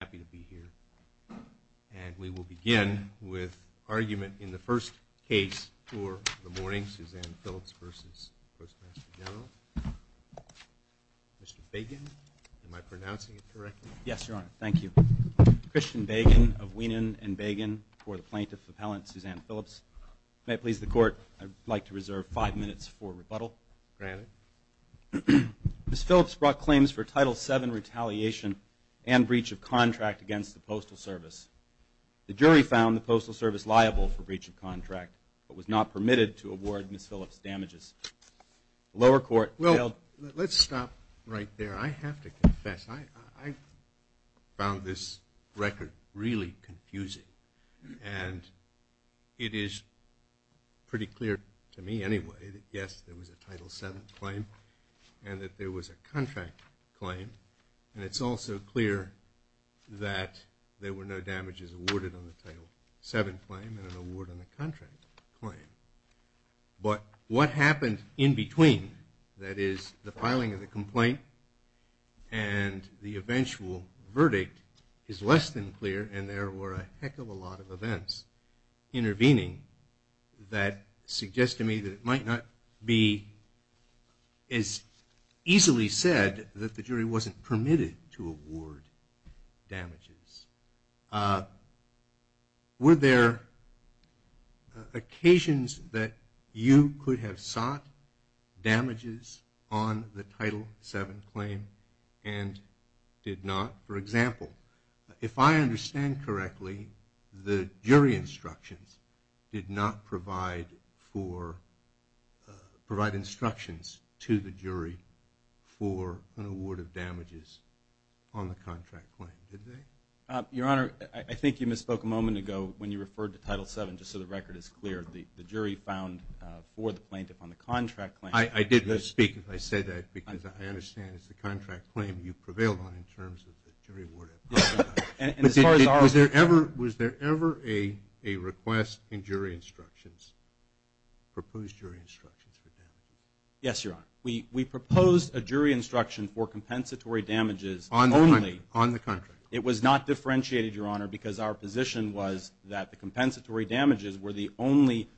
I'm happy to be here. And we will begin with argument in the first case for the morning, Suzanne Phillips v. Postmaster General. Mr. Bagan, am I pronouncing it correctly? Yes, Your Honor. Thank you. Christian Bagan of Weenan & Bagan for the plaintiff appellant, Suzanne Phillips. May it please the Court, I'd like to reserve five minutes for rebuttal. Granted. Ms. Phillips brought claims for Title VII retaliation and breach of contract against the Postal Service. The jury found the Postal Service liable for breach of contract, but was not permitted to award Ms. Phillips damages. The lower court held- Well, let's stop right there. I have to confess, I found this record really confusing. And it is pretty clear to me anyway that, yes, there was a Title VII claim and that there was a contract claim. And it's also clear that there were no damages awarded on the Title VII claim and an award on the contract claim. But what happened in between, that is, the filing of the complaint and the eventual verdict, is less than clear and there were a heck of a lot of events intervening that suggest to me that it might not be as easily said that the jury wasn't permitted to award damages. Were there occasions that you could have sought damages on the Title VII claim and did not? For example, if I understand correctly, the jury instructions did not provide for- provide instructions to the jury for an award of damages on the contract claim, did they? Your Honor, I think you misspoke a moment ago when you referred to Title VII, just so the record is clear. The jury found for the plaintiff on the contract claim- I did misspeak if I said that because I understand it's the contract claim you prevailed on in terms of the jury award. And as far as our- Was there ever a request in jury instructions, proposed jury instructions for damages? Yes, Your Honor. We proposed a jury instruction for compensatory damages only- On the contract. It was not differentiated, Your Honor, because our position was that the compensatory damages were the only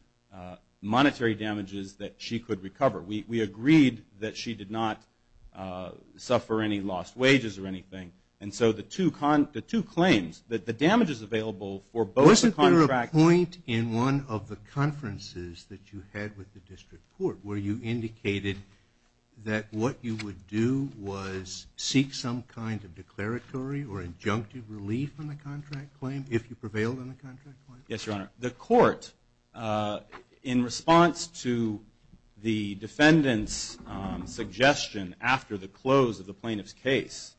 monetary damages that she could recover. We agreed that she did not suffer any lost wages or anything. And so the two claims, the damages available for both the contracts- Wasn't there a point in one of the conferences that you had with the district court where you indicated that what you would do was seek some kind of declaratory or injunctive relief on the contract claim if you prevailed on the contract claim? Yes, Your Honor. The court, in response to the defendant's suggestion after the close of the plaintiff's case,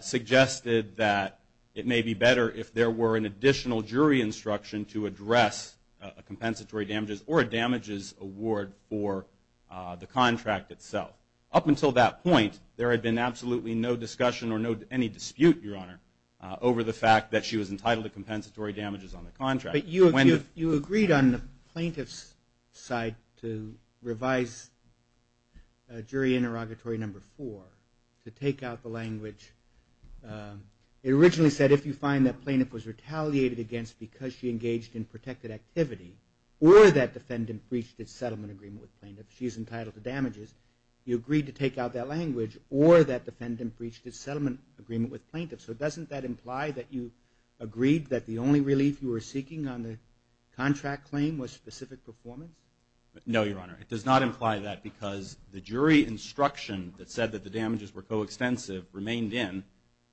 suggested that it may be better if there were an additional jury instruction to address a compensatory damages or a damages award for the contract itself. Up until that point, there had been absolutely no discussion or any dispute, Your Honor, over the fact that she was entitled to compensatory damages on the contract. But you agreed on the plaintiff's side to revise jury interrogatory number four to take out the language. It originally said if you find that plaintiff was retaliated against because she engaged in protected activity or that defendant breached its settlement agreement with plaintiff, she is entitled to damages, you agreed to take out that language or that defendant breached its settlement agreement with plaintiff. So doesn't that imply that you agreed that the only relief you were seeking on the contract claim was specific performance? No, Your Honor. It does not imply that because the jury instruction that said that the damages were coextensive remained in.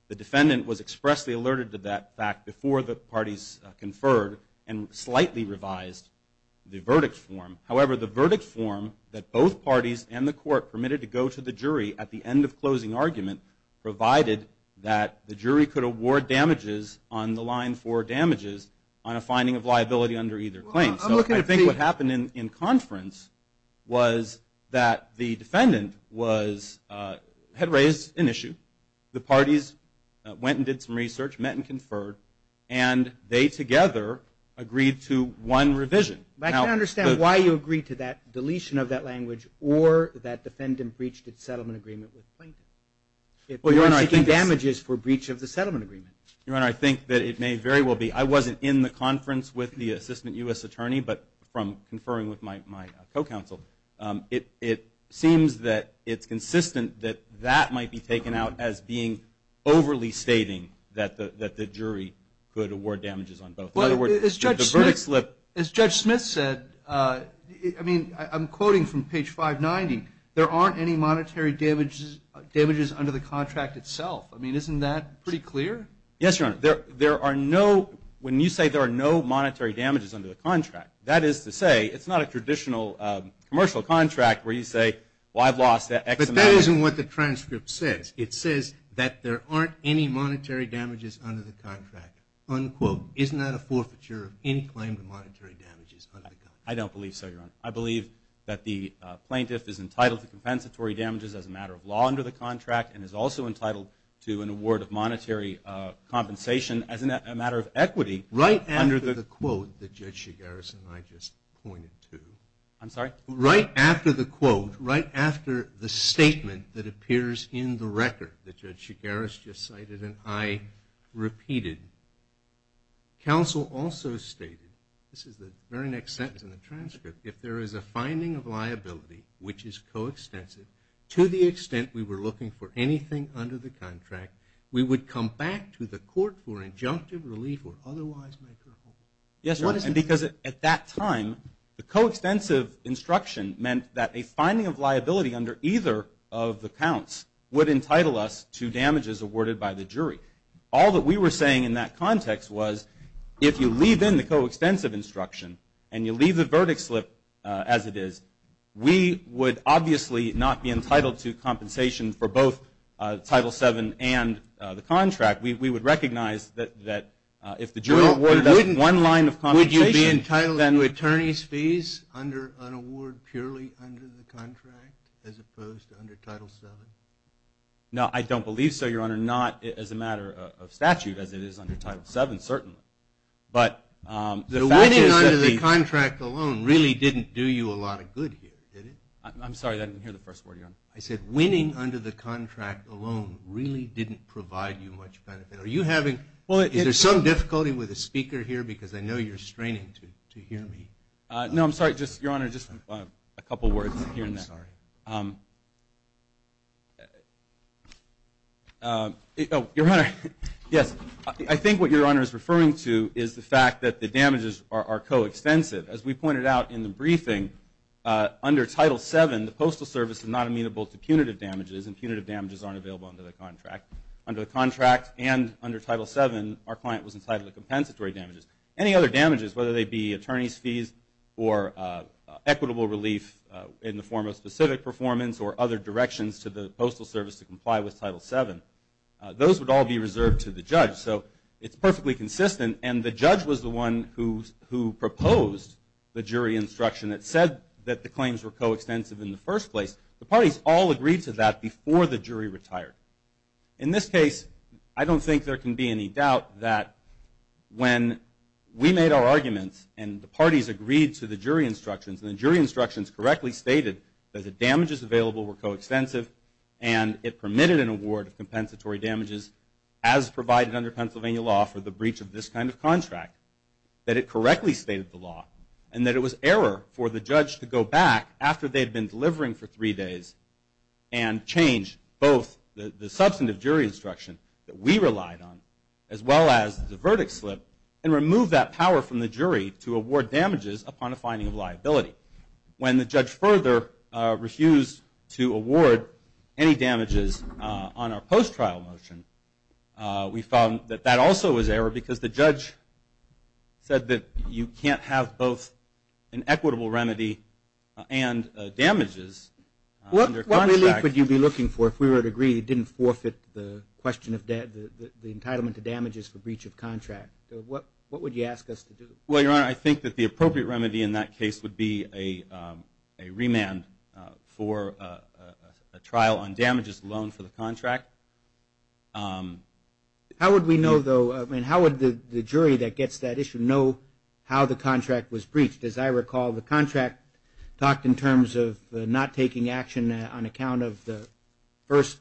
The defendant was expressly alerted to that fact before the parties conferred and slightly revised the verdict form. However, the verdict form that both parties and the court permitted to go to the jury at the end of closing argument provided that the jury could award damages on the line for damages on a finding of liability under either claim. So I think what happened in conference was that the defendant had raised an issue, the parties went and did some research, met and conferred, and they together agreed to one revision. I can't understand why you agreed to that deletion of that language or that defendant breached its settlement agreement with plaintiff. Well, Your Honor, I think it damages for breach of the settlement agreement. Your Honor, I think that it may very well be. I wasn't in the conference with the assistant U.S. attorney, but from conferring with my co-counsel, it seems that it's consistent that that might be taken out as being overly stating that the jury could award damages on both. As Judge Smith said, I mean, I'm quoting from page 590, there aren't any monetary damages under the contract itself. I mean, isn't that pretty clear? Yes, Your Honor. There are no, when you say there are no monetary damages under the contract, that is to say it's not a traditional commercial contract where you say, well, I've lost X amount. But that isn't what the transcript says. It says that there aren't any monetary damages under the contract, unquote. Isn't that a forfeiture of any claim to monetary damages under the contract? I don't believe so, Your Honor. I believe that the plaintiff is entitled to compensatory damages as a matter of law under the contract and is also entitled to an award of monetary compensation as a matter of equity. Right after the quote that Judge Shigaris and I just pointed to. I'm sorry? Right after the quote, right after the statement that appears in the record that Judge Shigaris just cited and I repeated, counsel also stated, this is the very next sentence in the transcript, if there is a finding of liability which is coextensive, to the extent we were looking for anything under the contract, we would come back to the court for injunctive relief or otherwise make her whole. Yes, Your Honor, and because at that time the coextensive instruction meant that a finding of liability under either of the counts would entitle us to damages awarded by the jury. All that we were saying in that context was if you leave in the coextensive instruction and you leave the verdict slip as it is, we would obviously not be entitled to compensation for both Title VII and the contract. We would recognize that if the jury awarded us one line of compensation, then we'd under an award purely under the contract as opposed to under Title VII? No, I don't believe so, Your Honor. Not as a matter of statute as it is under Title VII, certainly. But the winning under the contract alone really didn't do you a lot of good here, did it? I'm sorry, I didn't hear the first word, Your Honor. I said winning under the contract alone really didn't provide you much benefit. Is there some difficulty with the speaker here? Because I know you're straining to hear me. No, I'm sorry, Your Honor, just a couple words here and there. I'm sorry. Your Honor, yes, I think what Your Honor is referring to is the fact that the damages are coextensive. As we pointed out in the briefing, under Title VII, the Postal Service is not amenable to punitive damages, and punitive damages aren't available under the contract. Under the contract and under Title VII, our client was entitled to compensatory damages. Any other damages, whether they be attorney's fees or equitable relief in the form of specific performance or other directions to the Postal Service to comply with Title VII, those would all be reserved to the judge. So it's perfectly consistent, and the judge was the one who proposed the jury instruction that said that the claims were coextensive in the first place. The parties all agreed to that before the jury retired. In this case, I don't think there can be any doubt that when we made our arguments and the parties agreed to the jury instructions, and the jury instructions correctly stated that the damages available were coextensive and it permitted an award of compensatory damages as provided under Pennsylvania law for the breach of this kind of contract, that it correctly stated the law and that it was error for the judge to go back after they had been delivering for three days and change both the substantive jury instruction that we relied on as well as the verdict slip and remove that power from the jury to award damages upon a finding of liability. When the judge further refused to award any damages on our post-trial motion, we found that that also was error because the judge said that you can't have both an equitable remedy and damages under contract. What relief would you be looking for if we were to agree it didn't forfeit the question of the entitlement to damages for breach of contract? What would you ask us to do? Well, Your Honor, I think that the appropriate remedy in that case would be a remand for a trial on damages alone for the contract. How would we know, though, and how would the jury that gets that issue know how the contract was breached? As I recall, the contract talked in terms of not taking action on account of the first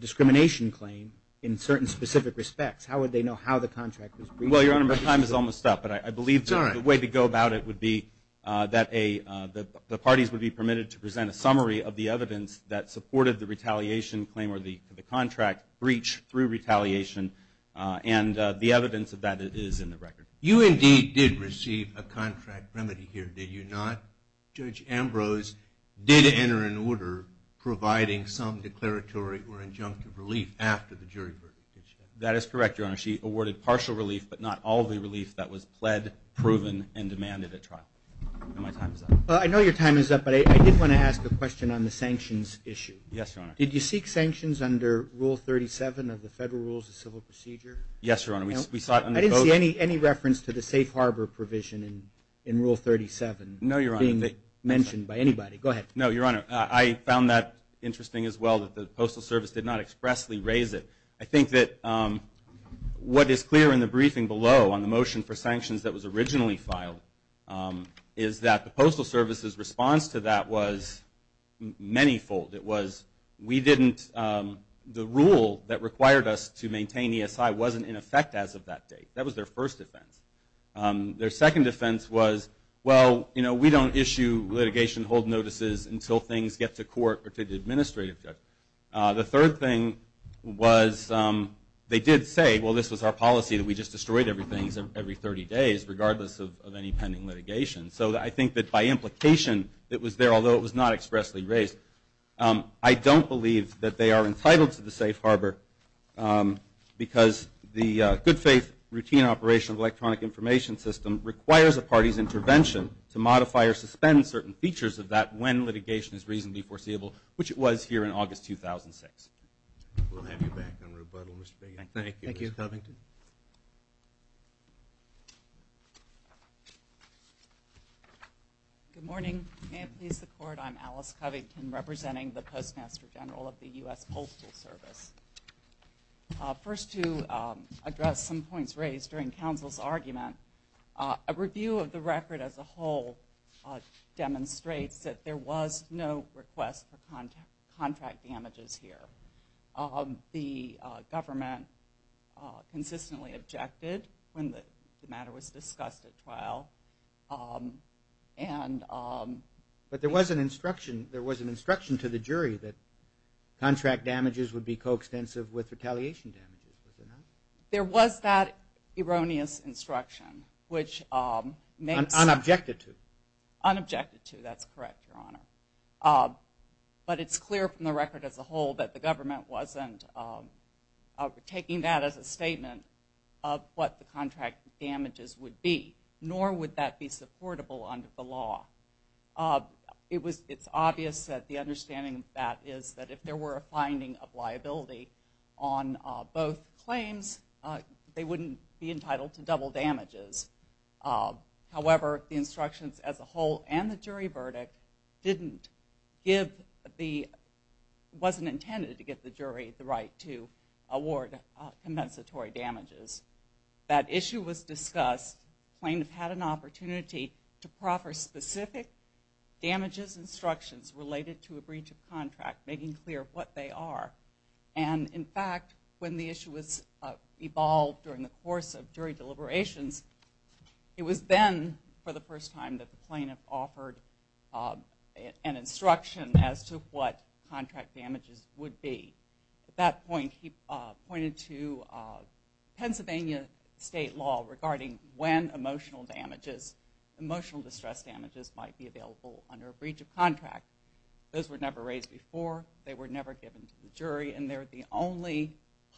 discrimination claim in certain specific respects. How would they know how the contract was breached? Well, Your Honor, my time is almost up, but I believe the way to go about it would be that the parties would be permitted to present a summary of the evidence that supported the retaliation claim or the contract breach through retaliation and the evidence of that is in the record. You indeed did receive a contract remedy here, did you not? Judge Ambrose did enter an order providing some declaratory or injunctive relief after the jury verdict. That is correct, Your Honor. She awarded partial relief but not all the relief that was pled, proven, and demanded at trial. My time is up. I know your time is up, but I did want to ask a question on the sanctions issue. Yes, Your Honor. Did you seek sanctions under Rule 37 of the Federal Rules of Civil Procedure? Yes, Your Honor. I didn't see any reference to the safe harbor provision in Rule 37 being mentioned by anybody. Go ahead. No, Your Honor. I found that interesting as well that the Postal Service did not expressly raise it. I think that what is clear in the briefing below on the motion for sanctions that was originally filed is that the Postal Service's response to that was many-fold. The rule that required us to maintain ESI wasn't in effect as of that date. That was their first defense. Their second defense was, well, we don't issue litigation hold notices until things get to court or to the administrative judge. The third thing was they did say, well, this was our policy that we just destroyed everything every 30 days regardless of any pending litigation. So I think that by implication it was there, although it was not expressly raised. I don't believe that they are entitled to the safe harbor because the good faith routine operation of electronic information system requires a party's intervention to modify or suspend certain features of that when litigation is reasonably foreseeable, which it was here in August 2006. We'll have you back on rebuttal, Mr. Bigot. Thank you, Mr. Covington. Thank you. Good morning. May it please the Court, I'm Alice Covington, representing the Postmaster General of the U.S. Postal Service. First to address some points raised during counsel's argument, a review of the record as a whole demonstrates that there was no request for contract damages here. The government consistently objected when the matter was discussed at trial. But there was an instruction to the jury that contract damages would be coextensive with retaliation damages. Was there not? There was that erroneous instruction, which makes... Unobjected to. But it's clear from the record as a whole that the government wasn't taking that as a statement of what the contract damages would be, nor would that be supportable under the law. It's obvious that the understanding of that is that if there were a finding of liability on both claims, they wouldn't be entitled to double damages. However, the instructions as a whole and the jury verdict didn't give the... wasn't intended to give the jury the right to award compensatory damages. That issue was discussed, claimed to have had an opportunity to proffer specific damages instructions related to a breach of contract, making clear what they are. And in fact, when the issue was evolved during the course of jury deliberations, it was then for the first time that the plaintiff offered an instruction as to what contract damages would be. At that point, he pointed to Pennsylvania state law regarding when emotional damages, emotional distress damages might be available under a breach of contract. Those were never raised before. They were never given to the jury, and they're the only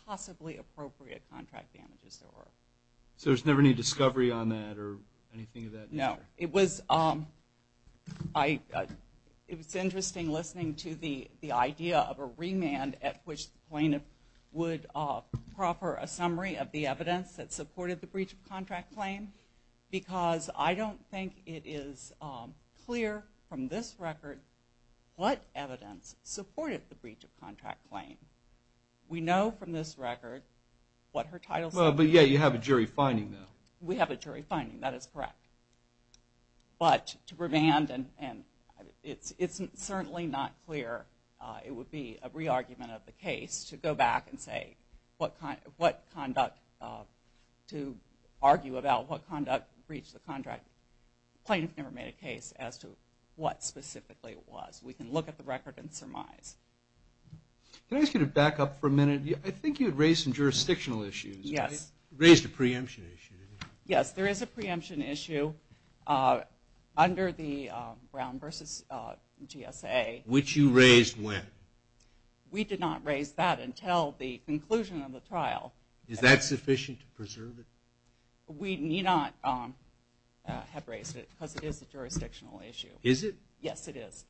possibly appropriate contract damages there were. So there's never any discovery on that or anything of that nature? No. It was interesting listening to the idea of a remand at which the plaintiff would offer a summary of the evidence that supported the breach of contract claim because I don't think it is clear from this record what evidence supported the breach of contract claim. We know from this record what her title says. But yeah, you have a jury finding, though. We have a jury finding. That is correct. But to remand, and it's certainly not clear. It would be a re-argument of the case to go back and say what conduct to argue about what conduct breached the contract. The plaintiff never made a case as to what specifically it was. We can look at the record and surmise. Can I ask you to back up for a minute? I think you had raised some jurisdictional issues. Yes. You raised a preemption issue, didn't you? Yes, there is a preemption issue under the Brown v. GSA. Which you raised when? We did not raise that until the conclusion of the trial. Is that sufficient to preserve it? We need not have raised it because it is a jurisdictional issue. Is it? Yes, it is.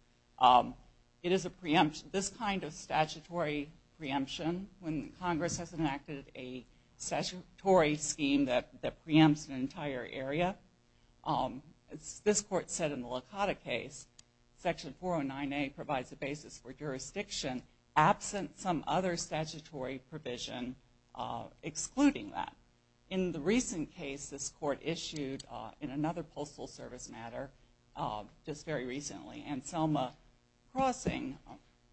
It is a preemption. This kind of statutory preemption, when Congress has enacted a statutory scheme that preempts an entire area, as this Court said in the Lakota case, Section 409A provides a basis for jurisdiction absent some other statutory provision excluding that. In the recent case this Court issued in another Postal Service matter, just very recently, Anselma Crossing,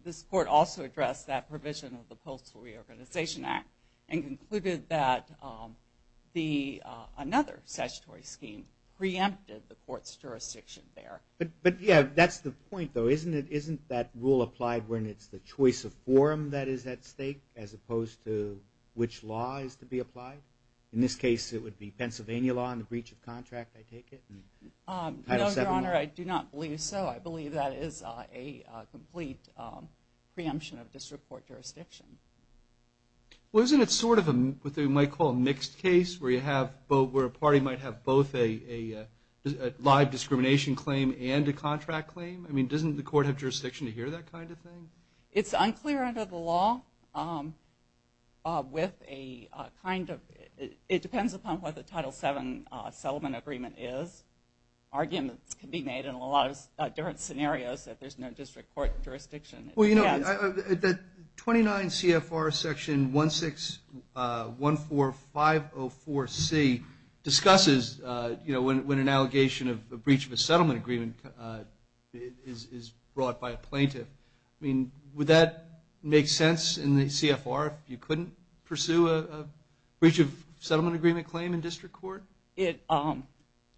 this Court also addressed that provision of the Postal Reorganization Act and concluded that another statutory scheme preempted the Court's jurisdiction there. That's the point, though. Isn't that rule applied when it's the choice of forum that is at stake as opposed to which law is to be applied? In this case, it would be Pennsylvania law in the breach of contract, I take it? No, Your Honor, I do not believe so. I believe that is a complete preemption of district court jurisdiction. Well, isn't it sort of what you might call a mixed case where a party might have both a live discrimination claim and a contract claim? I mean, doesn't the Court have jurisdiction to hear that kind of thing? It's unclear under the law with a kind of – it depends upon what the Title VII settlement agreement is. Arguments can be made in a lot of different scenarios that there's no district court jurisdiction. Well, you know, the 29 CFR Section 1614504C discusses, you know, when an allegation of a breach of a settlement agreement is brought by a plaintiff. I mean, would that make sense in the CFR if you couldn't pursue a breach of settlement agreement claim in district court?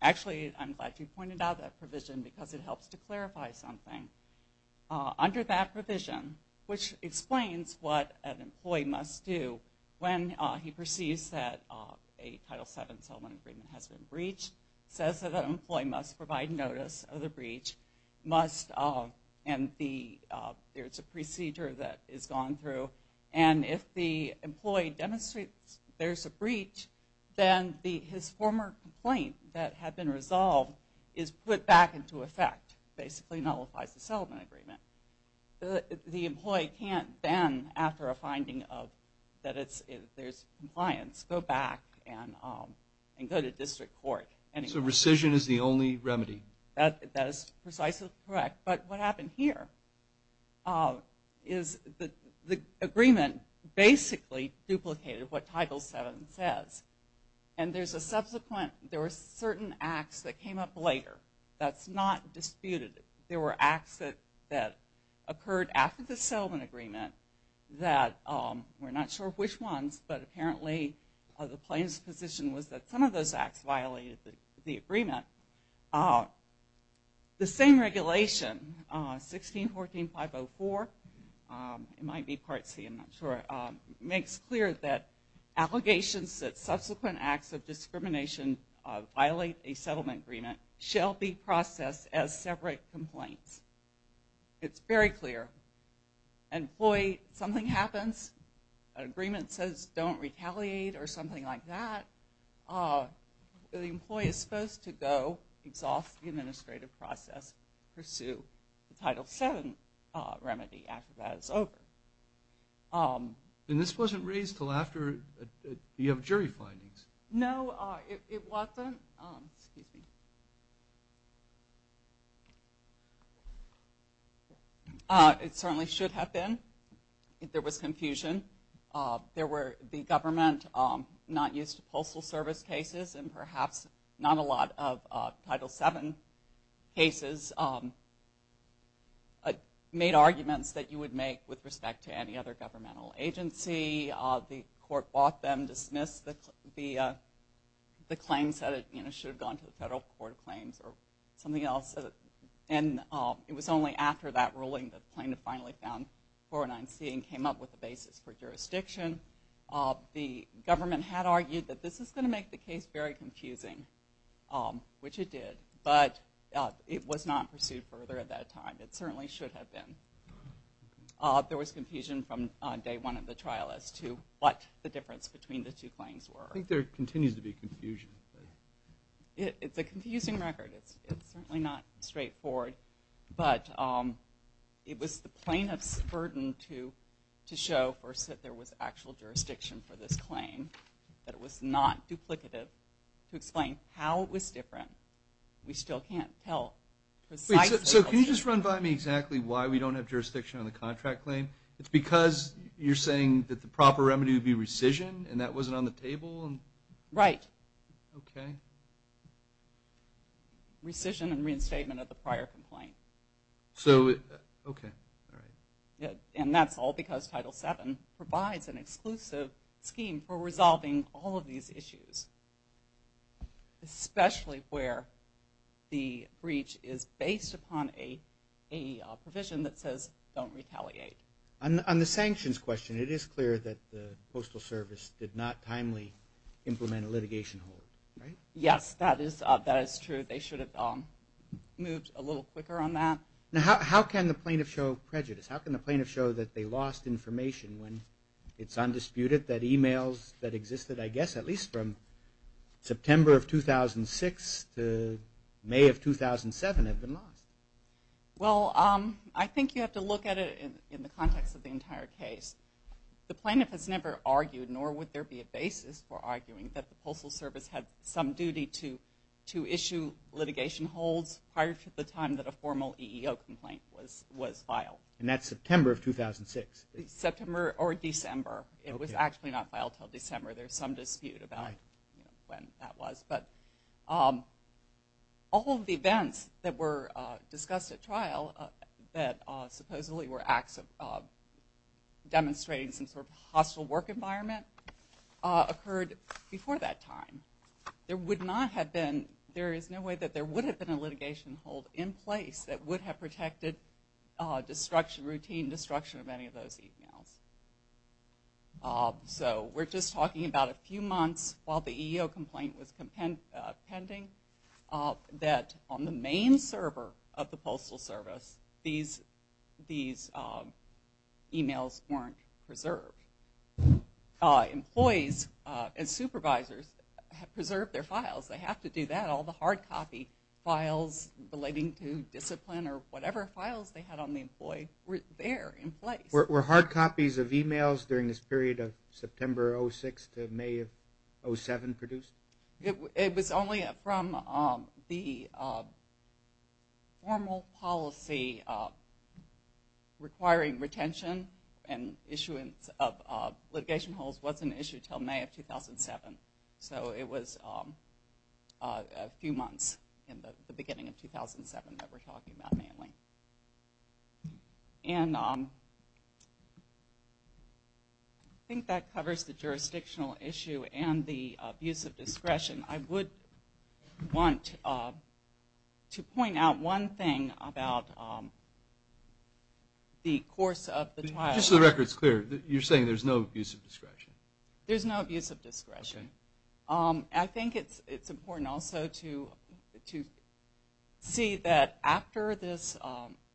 Actually, I'm glad you pointed out that provision because it helps to clarify something. Under that provision, which explains what an employee must do when he perceives that a Title VII settlement agreement has been breached, says that an employee must provide notice of the breach, must – and there's a procedure that is gone through. And if the employee demonstrates there's a breach, then his former complaint that had been resolved is put back into effect, basically nullifies the settlement agreement. The employee can't then, after a finding that there's compliance, go back and go to district court. So rescission is the only remedy. That is precisely correct. But what happened here is the agreement basically duplicated what Title VII says. And there's a subsequent – there were certain acts that came up later. That's not disputed. There were acts that occurred after the settlement agreement that we're not sure which ones, but apparently the plaintiff's position was that some of those acts violated the agreement. The same regulation, 1614.504 – it might be Part C, I'm not sure – makes clear that allegations that subsequent acts of discrimination violate a settlement agreement shall be processed as separate complaints. It's very clear. Employee, something happens, an agreement says don't retaliate or something like that, the employee is supposed to go, exhaust the administrative process, pursue the Title VII remedy after that is over. And this wasn't raised until after you have jury findings. No, it wasn't. It certainly should have been. There was confusion. There were the government not used to postal service cases and perhaps not a lot of Title VII cases made arguments that you would make with respect to any other governmental agency. Maybe the court bought them, dismissed the claims, said it should have gone to the federal court of claims or something else. And it was only after that ruling that the plaintiff finally found 409C and came up with a basis for jurisdiction. The government had argued that this is going to make the case very confusing, which it did, but it was not pursued further at that time. It certainly should have been. There was confusion from day one of the trial as to what the difference between the two claims were. I think there continues to be confusion. It's a confusing record. It's certainly not straightforward. But it was the plaintiff's burden to show first that there was actual jurisdiction for this claim, that it was not duplicative, to explain how it was different. We still can't tell precisely. So can you just run by me exactly why we don't have jurisdiction on the contract claim? It's because you're saying that the proper remedy would be rescission and that wasn't on the table? Right. Okay. Rescission and reinstatement of the prior complaint. So, okay, all right. And that's all because Title VII provides an exclusive scheme for resolving all of these issues, especially where the breach is based upon a provision that says don't retaliate. On the sanctions question, it is clear that the Postal Service did not timely implement a litigation hold, right? Yes, that is true. They should have moved a little quicker on that. Now, how can the plaintiff show prejudice? How can the plaintiff show that they lost information when it's undisputed that emails that existed, I guess, at least from September of 2006 to May of 2007 had been lost? Well, I think you have to look at it in the context of the entire case. The plaintiff has never argued, nor would there be a basis for arguing, that the Postal Service had some duty to issue litigation holds prior to the time that a formal EEO complaint was filed. And that's September of 2006? September or December. It was actually not filed until December. There's some dispute about when that was. But all of the events that were discussed at trial, that supposedly were acts of demonstrating some sort of hostile work environment, occurred before that time. There would not have been – there is no way that there would have been a litigation hold in place that would have protected routine destruction of any of those emails. So we're just talking about a few months while the EEO complaint was pending, that on the main server of the Postal Service, these emails weren't preserved. Employees and supervisors have preserved their files. They have to do that. All the hard copy files relating to discipline or whatever files they had on the employee were there in place. Were hard copies of emails during this period of September of 2006 to May of 2007 produced? It was only from the formal policy requiring retention and issuance of litigation holds wasn't issued until May of 2007. So it was a few months in the beginning of 2007 that we're talking about mailing. And I think that covers the jurisdictional issue and the abuse of discretion. I would want to point out one thing about the course of the trial. Just so the record's clear, you're saying there's no abuse of discretion? There's no abuse of discretion. Okay. I think it's important also to see that after this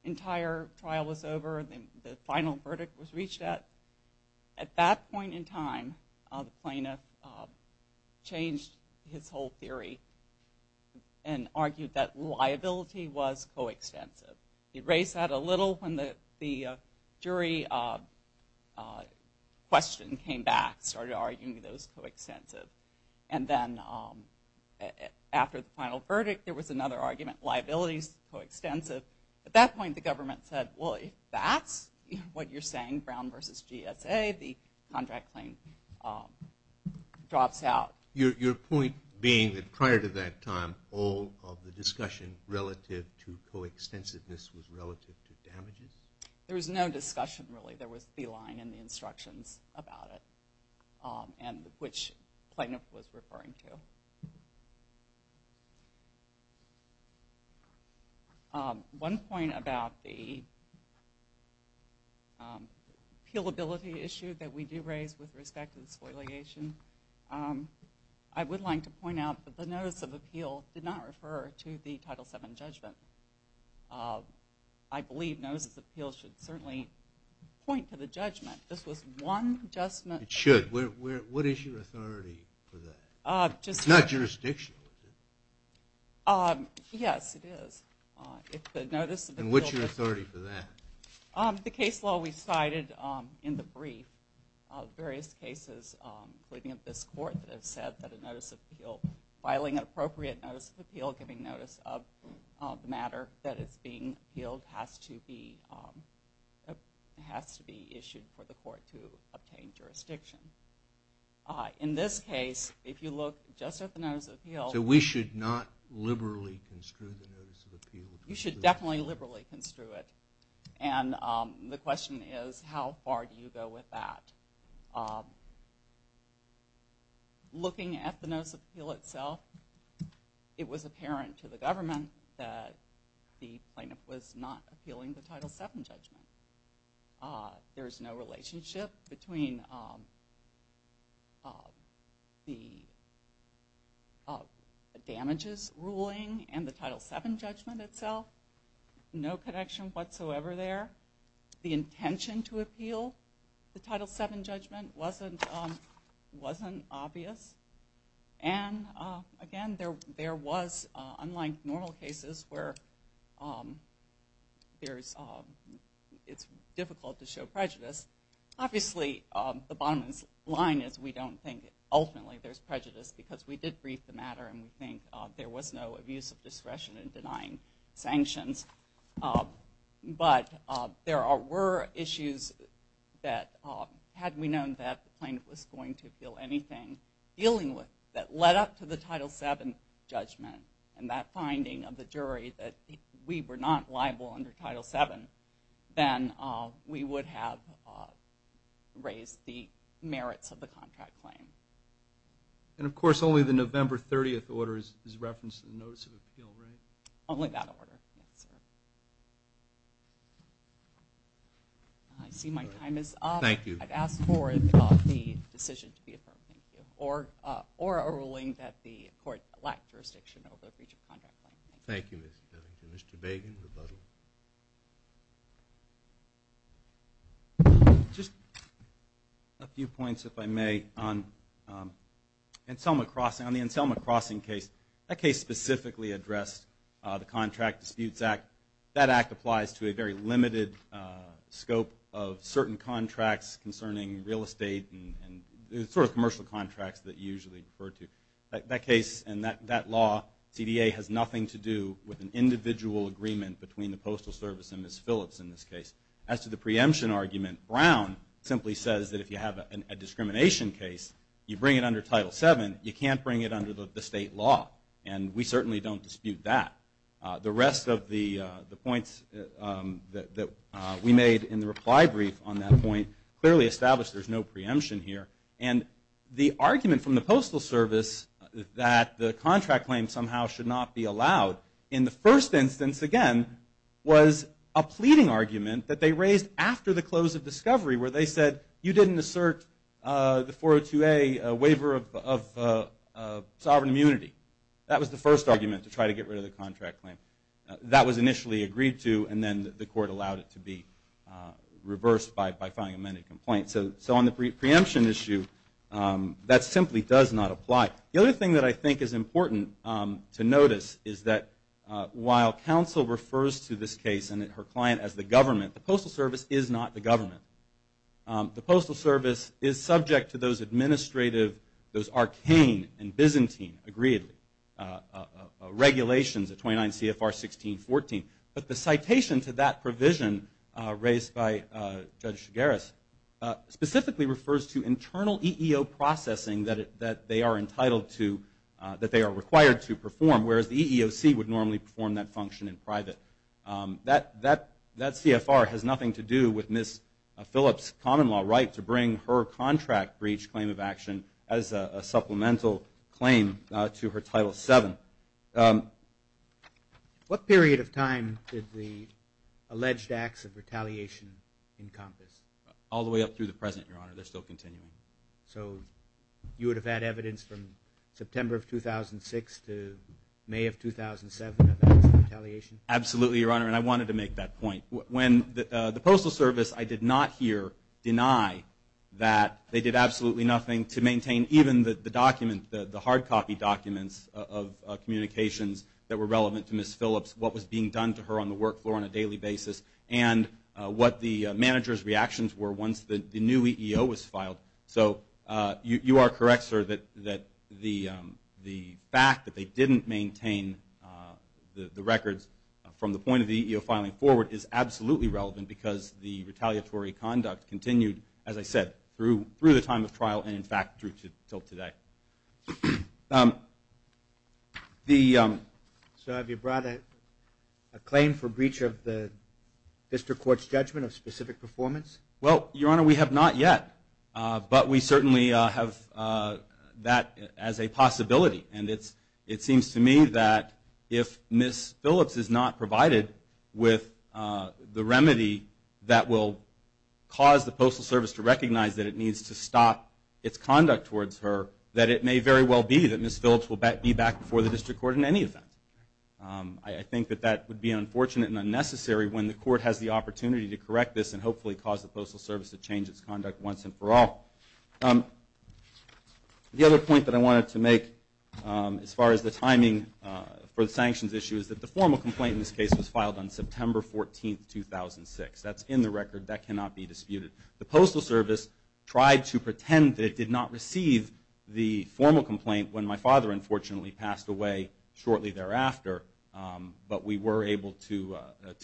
entire trial was over and the final verdict was reached at that point in time, the plaintiff changed his whole theory and argued that liability was coextensive. He raised that a little when the jury question came back, started arguing that it was coextensive. And then after the final verdict, there was another argument, liability's coextensive. At that point, the government said, well, if that's what you're saying, Brown versus GSA, the contract claim drops out. Your point being that prior to that time, all of the discussion relative to coextensiveness was relative to damages? There was no discussion, really. There was the line and the instructions about it and which plaintiff was referring to. One point about the appealability issue that we do raise with respect to the spoiliation. I would like to point out that the notice of appeal did not refer to the Title VII judgment. I believe notice of appeal should certainly point to the judgment. This was one judgment. It should. What is your authority for that? It's not jurisdictional, is it? Yes, it is. And what's your authority for that? The case law we cited in the brief of various cases, including of this court, that have said that a notice of appeal, filing an appropriate notice of appeal, giving notice of the matter that is being appealed has to be issued for the court to obtain jurisdiction. In this case, if you look just at the notice of appeal. So we should not liberally construe the notice of appeal? You should definitely liberally construe it. And the question is how far do you go with that? Looking at the notice of appeal itself, it was apparent to the government that the plaintiff was not appealing the Title VII judgment. There is no relationship between the damages ruling and the Title VII judgment itself. No connection whatsoever there. The intention to appeal the Title VII judgment wasn't obvious. And, again, there was, unlike normal cases where it's difficult to show prejudice, obviously the bottom line is we don't think ultimately there's prejudice because we did brief the matter and we think there was no abuse of discretion in denying sanctions. But there were issues that, had we known that the plaintiff was going to appeal anything dealing with, that led up to the Title VII judgment and that finding of the jury that we were not liable under Title VII, then we would have raised the merits of the contract claim. And, of course, only the November 30th order is referenced in the notice of appeal, right? Only that order, yes, sir. I see my time is up. Thank you. I'd ask for the decision to be affirmed, thank you, or a ruling that the court lacked jurisdiction over the breach of contract claim. Thank you, Ms. Bevington. Mr. Bagen, rebuttal. Just a few points, if I may, on the Anselma Crossing case. That case specifically addressed the Contract Disputes Act. That act applies to a very limited scope of certain contracts concerning real estate and the sort of commercial contracts that you usually refer to. That case and that law, CDA, has nothing to do with an individual agreement between the Postal Service and Ms. Phillips in this case. As to the preemption argument, Brown simply says that if you have a discrimination case, you bring it under Title VII, you can't bring it under the state law. And we certainly don't dispute that. The rest of the points that we made in the reply brief on that point clearly establish there's no preemption here. And the argument from the Postal Service that the contract claim somehow should not be allowed, in the first instance, again, was a pleading argument that they raised after the close of discovery where they said, you didn't assert the 402A waiver of sovereign immunity. That was the first argument to try to get rid of the contract claim. That was initially agreed to, and then the court allowed it to be reversed by filing an amended complaint. So on the preemption issue, that simply does not apply. The other thing that I think is important to notice is that while counsel refers to this case and her client as the government, the Postal Service is not the government. The Postal Service is subject to those administrative, those arcane and Byzantine, agreedly, regulations of 29 CFR 1614. But the citation to that provision raised by Judge Shigeras specifically refers to internal EEO processing that they are entitled to, that they are required to perform, whereas the EEOC would normally perform that function in private. That CFR has nothing to do with Ms. Phillips' common law right to bring her contract breach claim of action as a supplemental claim to her Title VII. What period of time did the alleged acts of retaliation encompass? All the way up through the present, Your Honor. They're still continuing. So you would have had evidence from September of 2006 to May of 2007 of acts of retaliation? Absolutely, Your Honor, and I wanted to make that point. When the Postal Service, I did not hear deny that they did absolutely nothing to maintain even the document, the hard copy documents of communications that were relevant to Ms. Phillips, what was being done to her on the work floor on a daily basis, and what the manager's reactions were once the new EEO was filed. So you are correct, sir, that the fact that they didn't maintain the records from the point of the EEO filing forward is absolutely relevant because the retaliatory conduct continued, as I said, through the time of trial and, in fact, through to today. So have you brought a claim for breach of the district court's judgment of specific performance? Well, Your Honor, we have not yet, but we certainly have that as a possibility, and it seems to me that if Ms. Phillips is not provided with the remedy that will cause the Postal Service to recognize that it needs to stop its conduct towards her, that it may very well be that Ms. Phillips will be back before the district court in any event. I think that that would be unfortunate and unnecessary when the court has the opportunity to correct this and hopefully cause the Postal Service to change its conduct once and for all. The other point that I wanted to make as far as the timing for the sanctions issue is that the formal complaint in this case was filed on September 14, 2006. That's in the record. That cannot be disputed. The Postal Service tried to pretend that it did not receive the formal complaint when my father unfortunately passed away shortly thereafter, but we were able to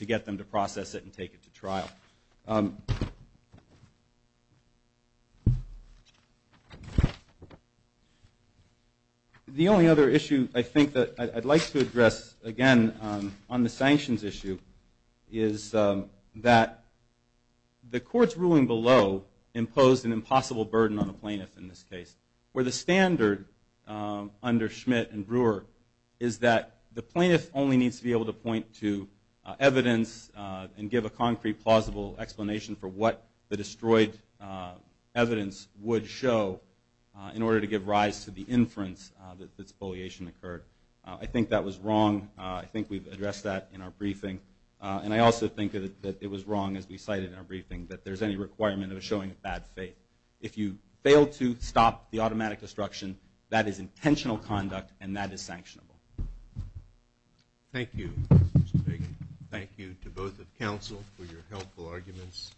get them to process it and take it to trial. The only other issue I think that I'd like to address again on the sanctions issue is that the court's ruling below imposed an impossible burden on the plaintiff in this case, where the standard under Schmidt and Brewer is that the plaintiff only needs to be able to point to evidence and give a concrete, plausible explanation for what the destroyed evidence would show in order to give rise to the inference that this bulliation occurred. I think that was wrong. I think we've addressed that in our briefing. And I also think that it was wrong, as we cited in our briefing, that there's any requirement of showing bad faith. If you fail to stop the automatic destruction, that is intentional conduct, and that is sanctionable. Thank you, Mr. Fagan. Thank you to both of the counsel for your helpful arguments.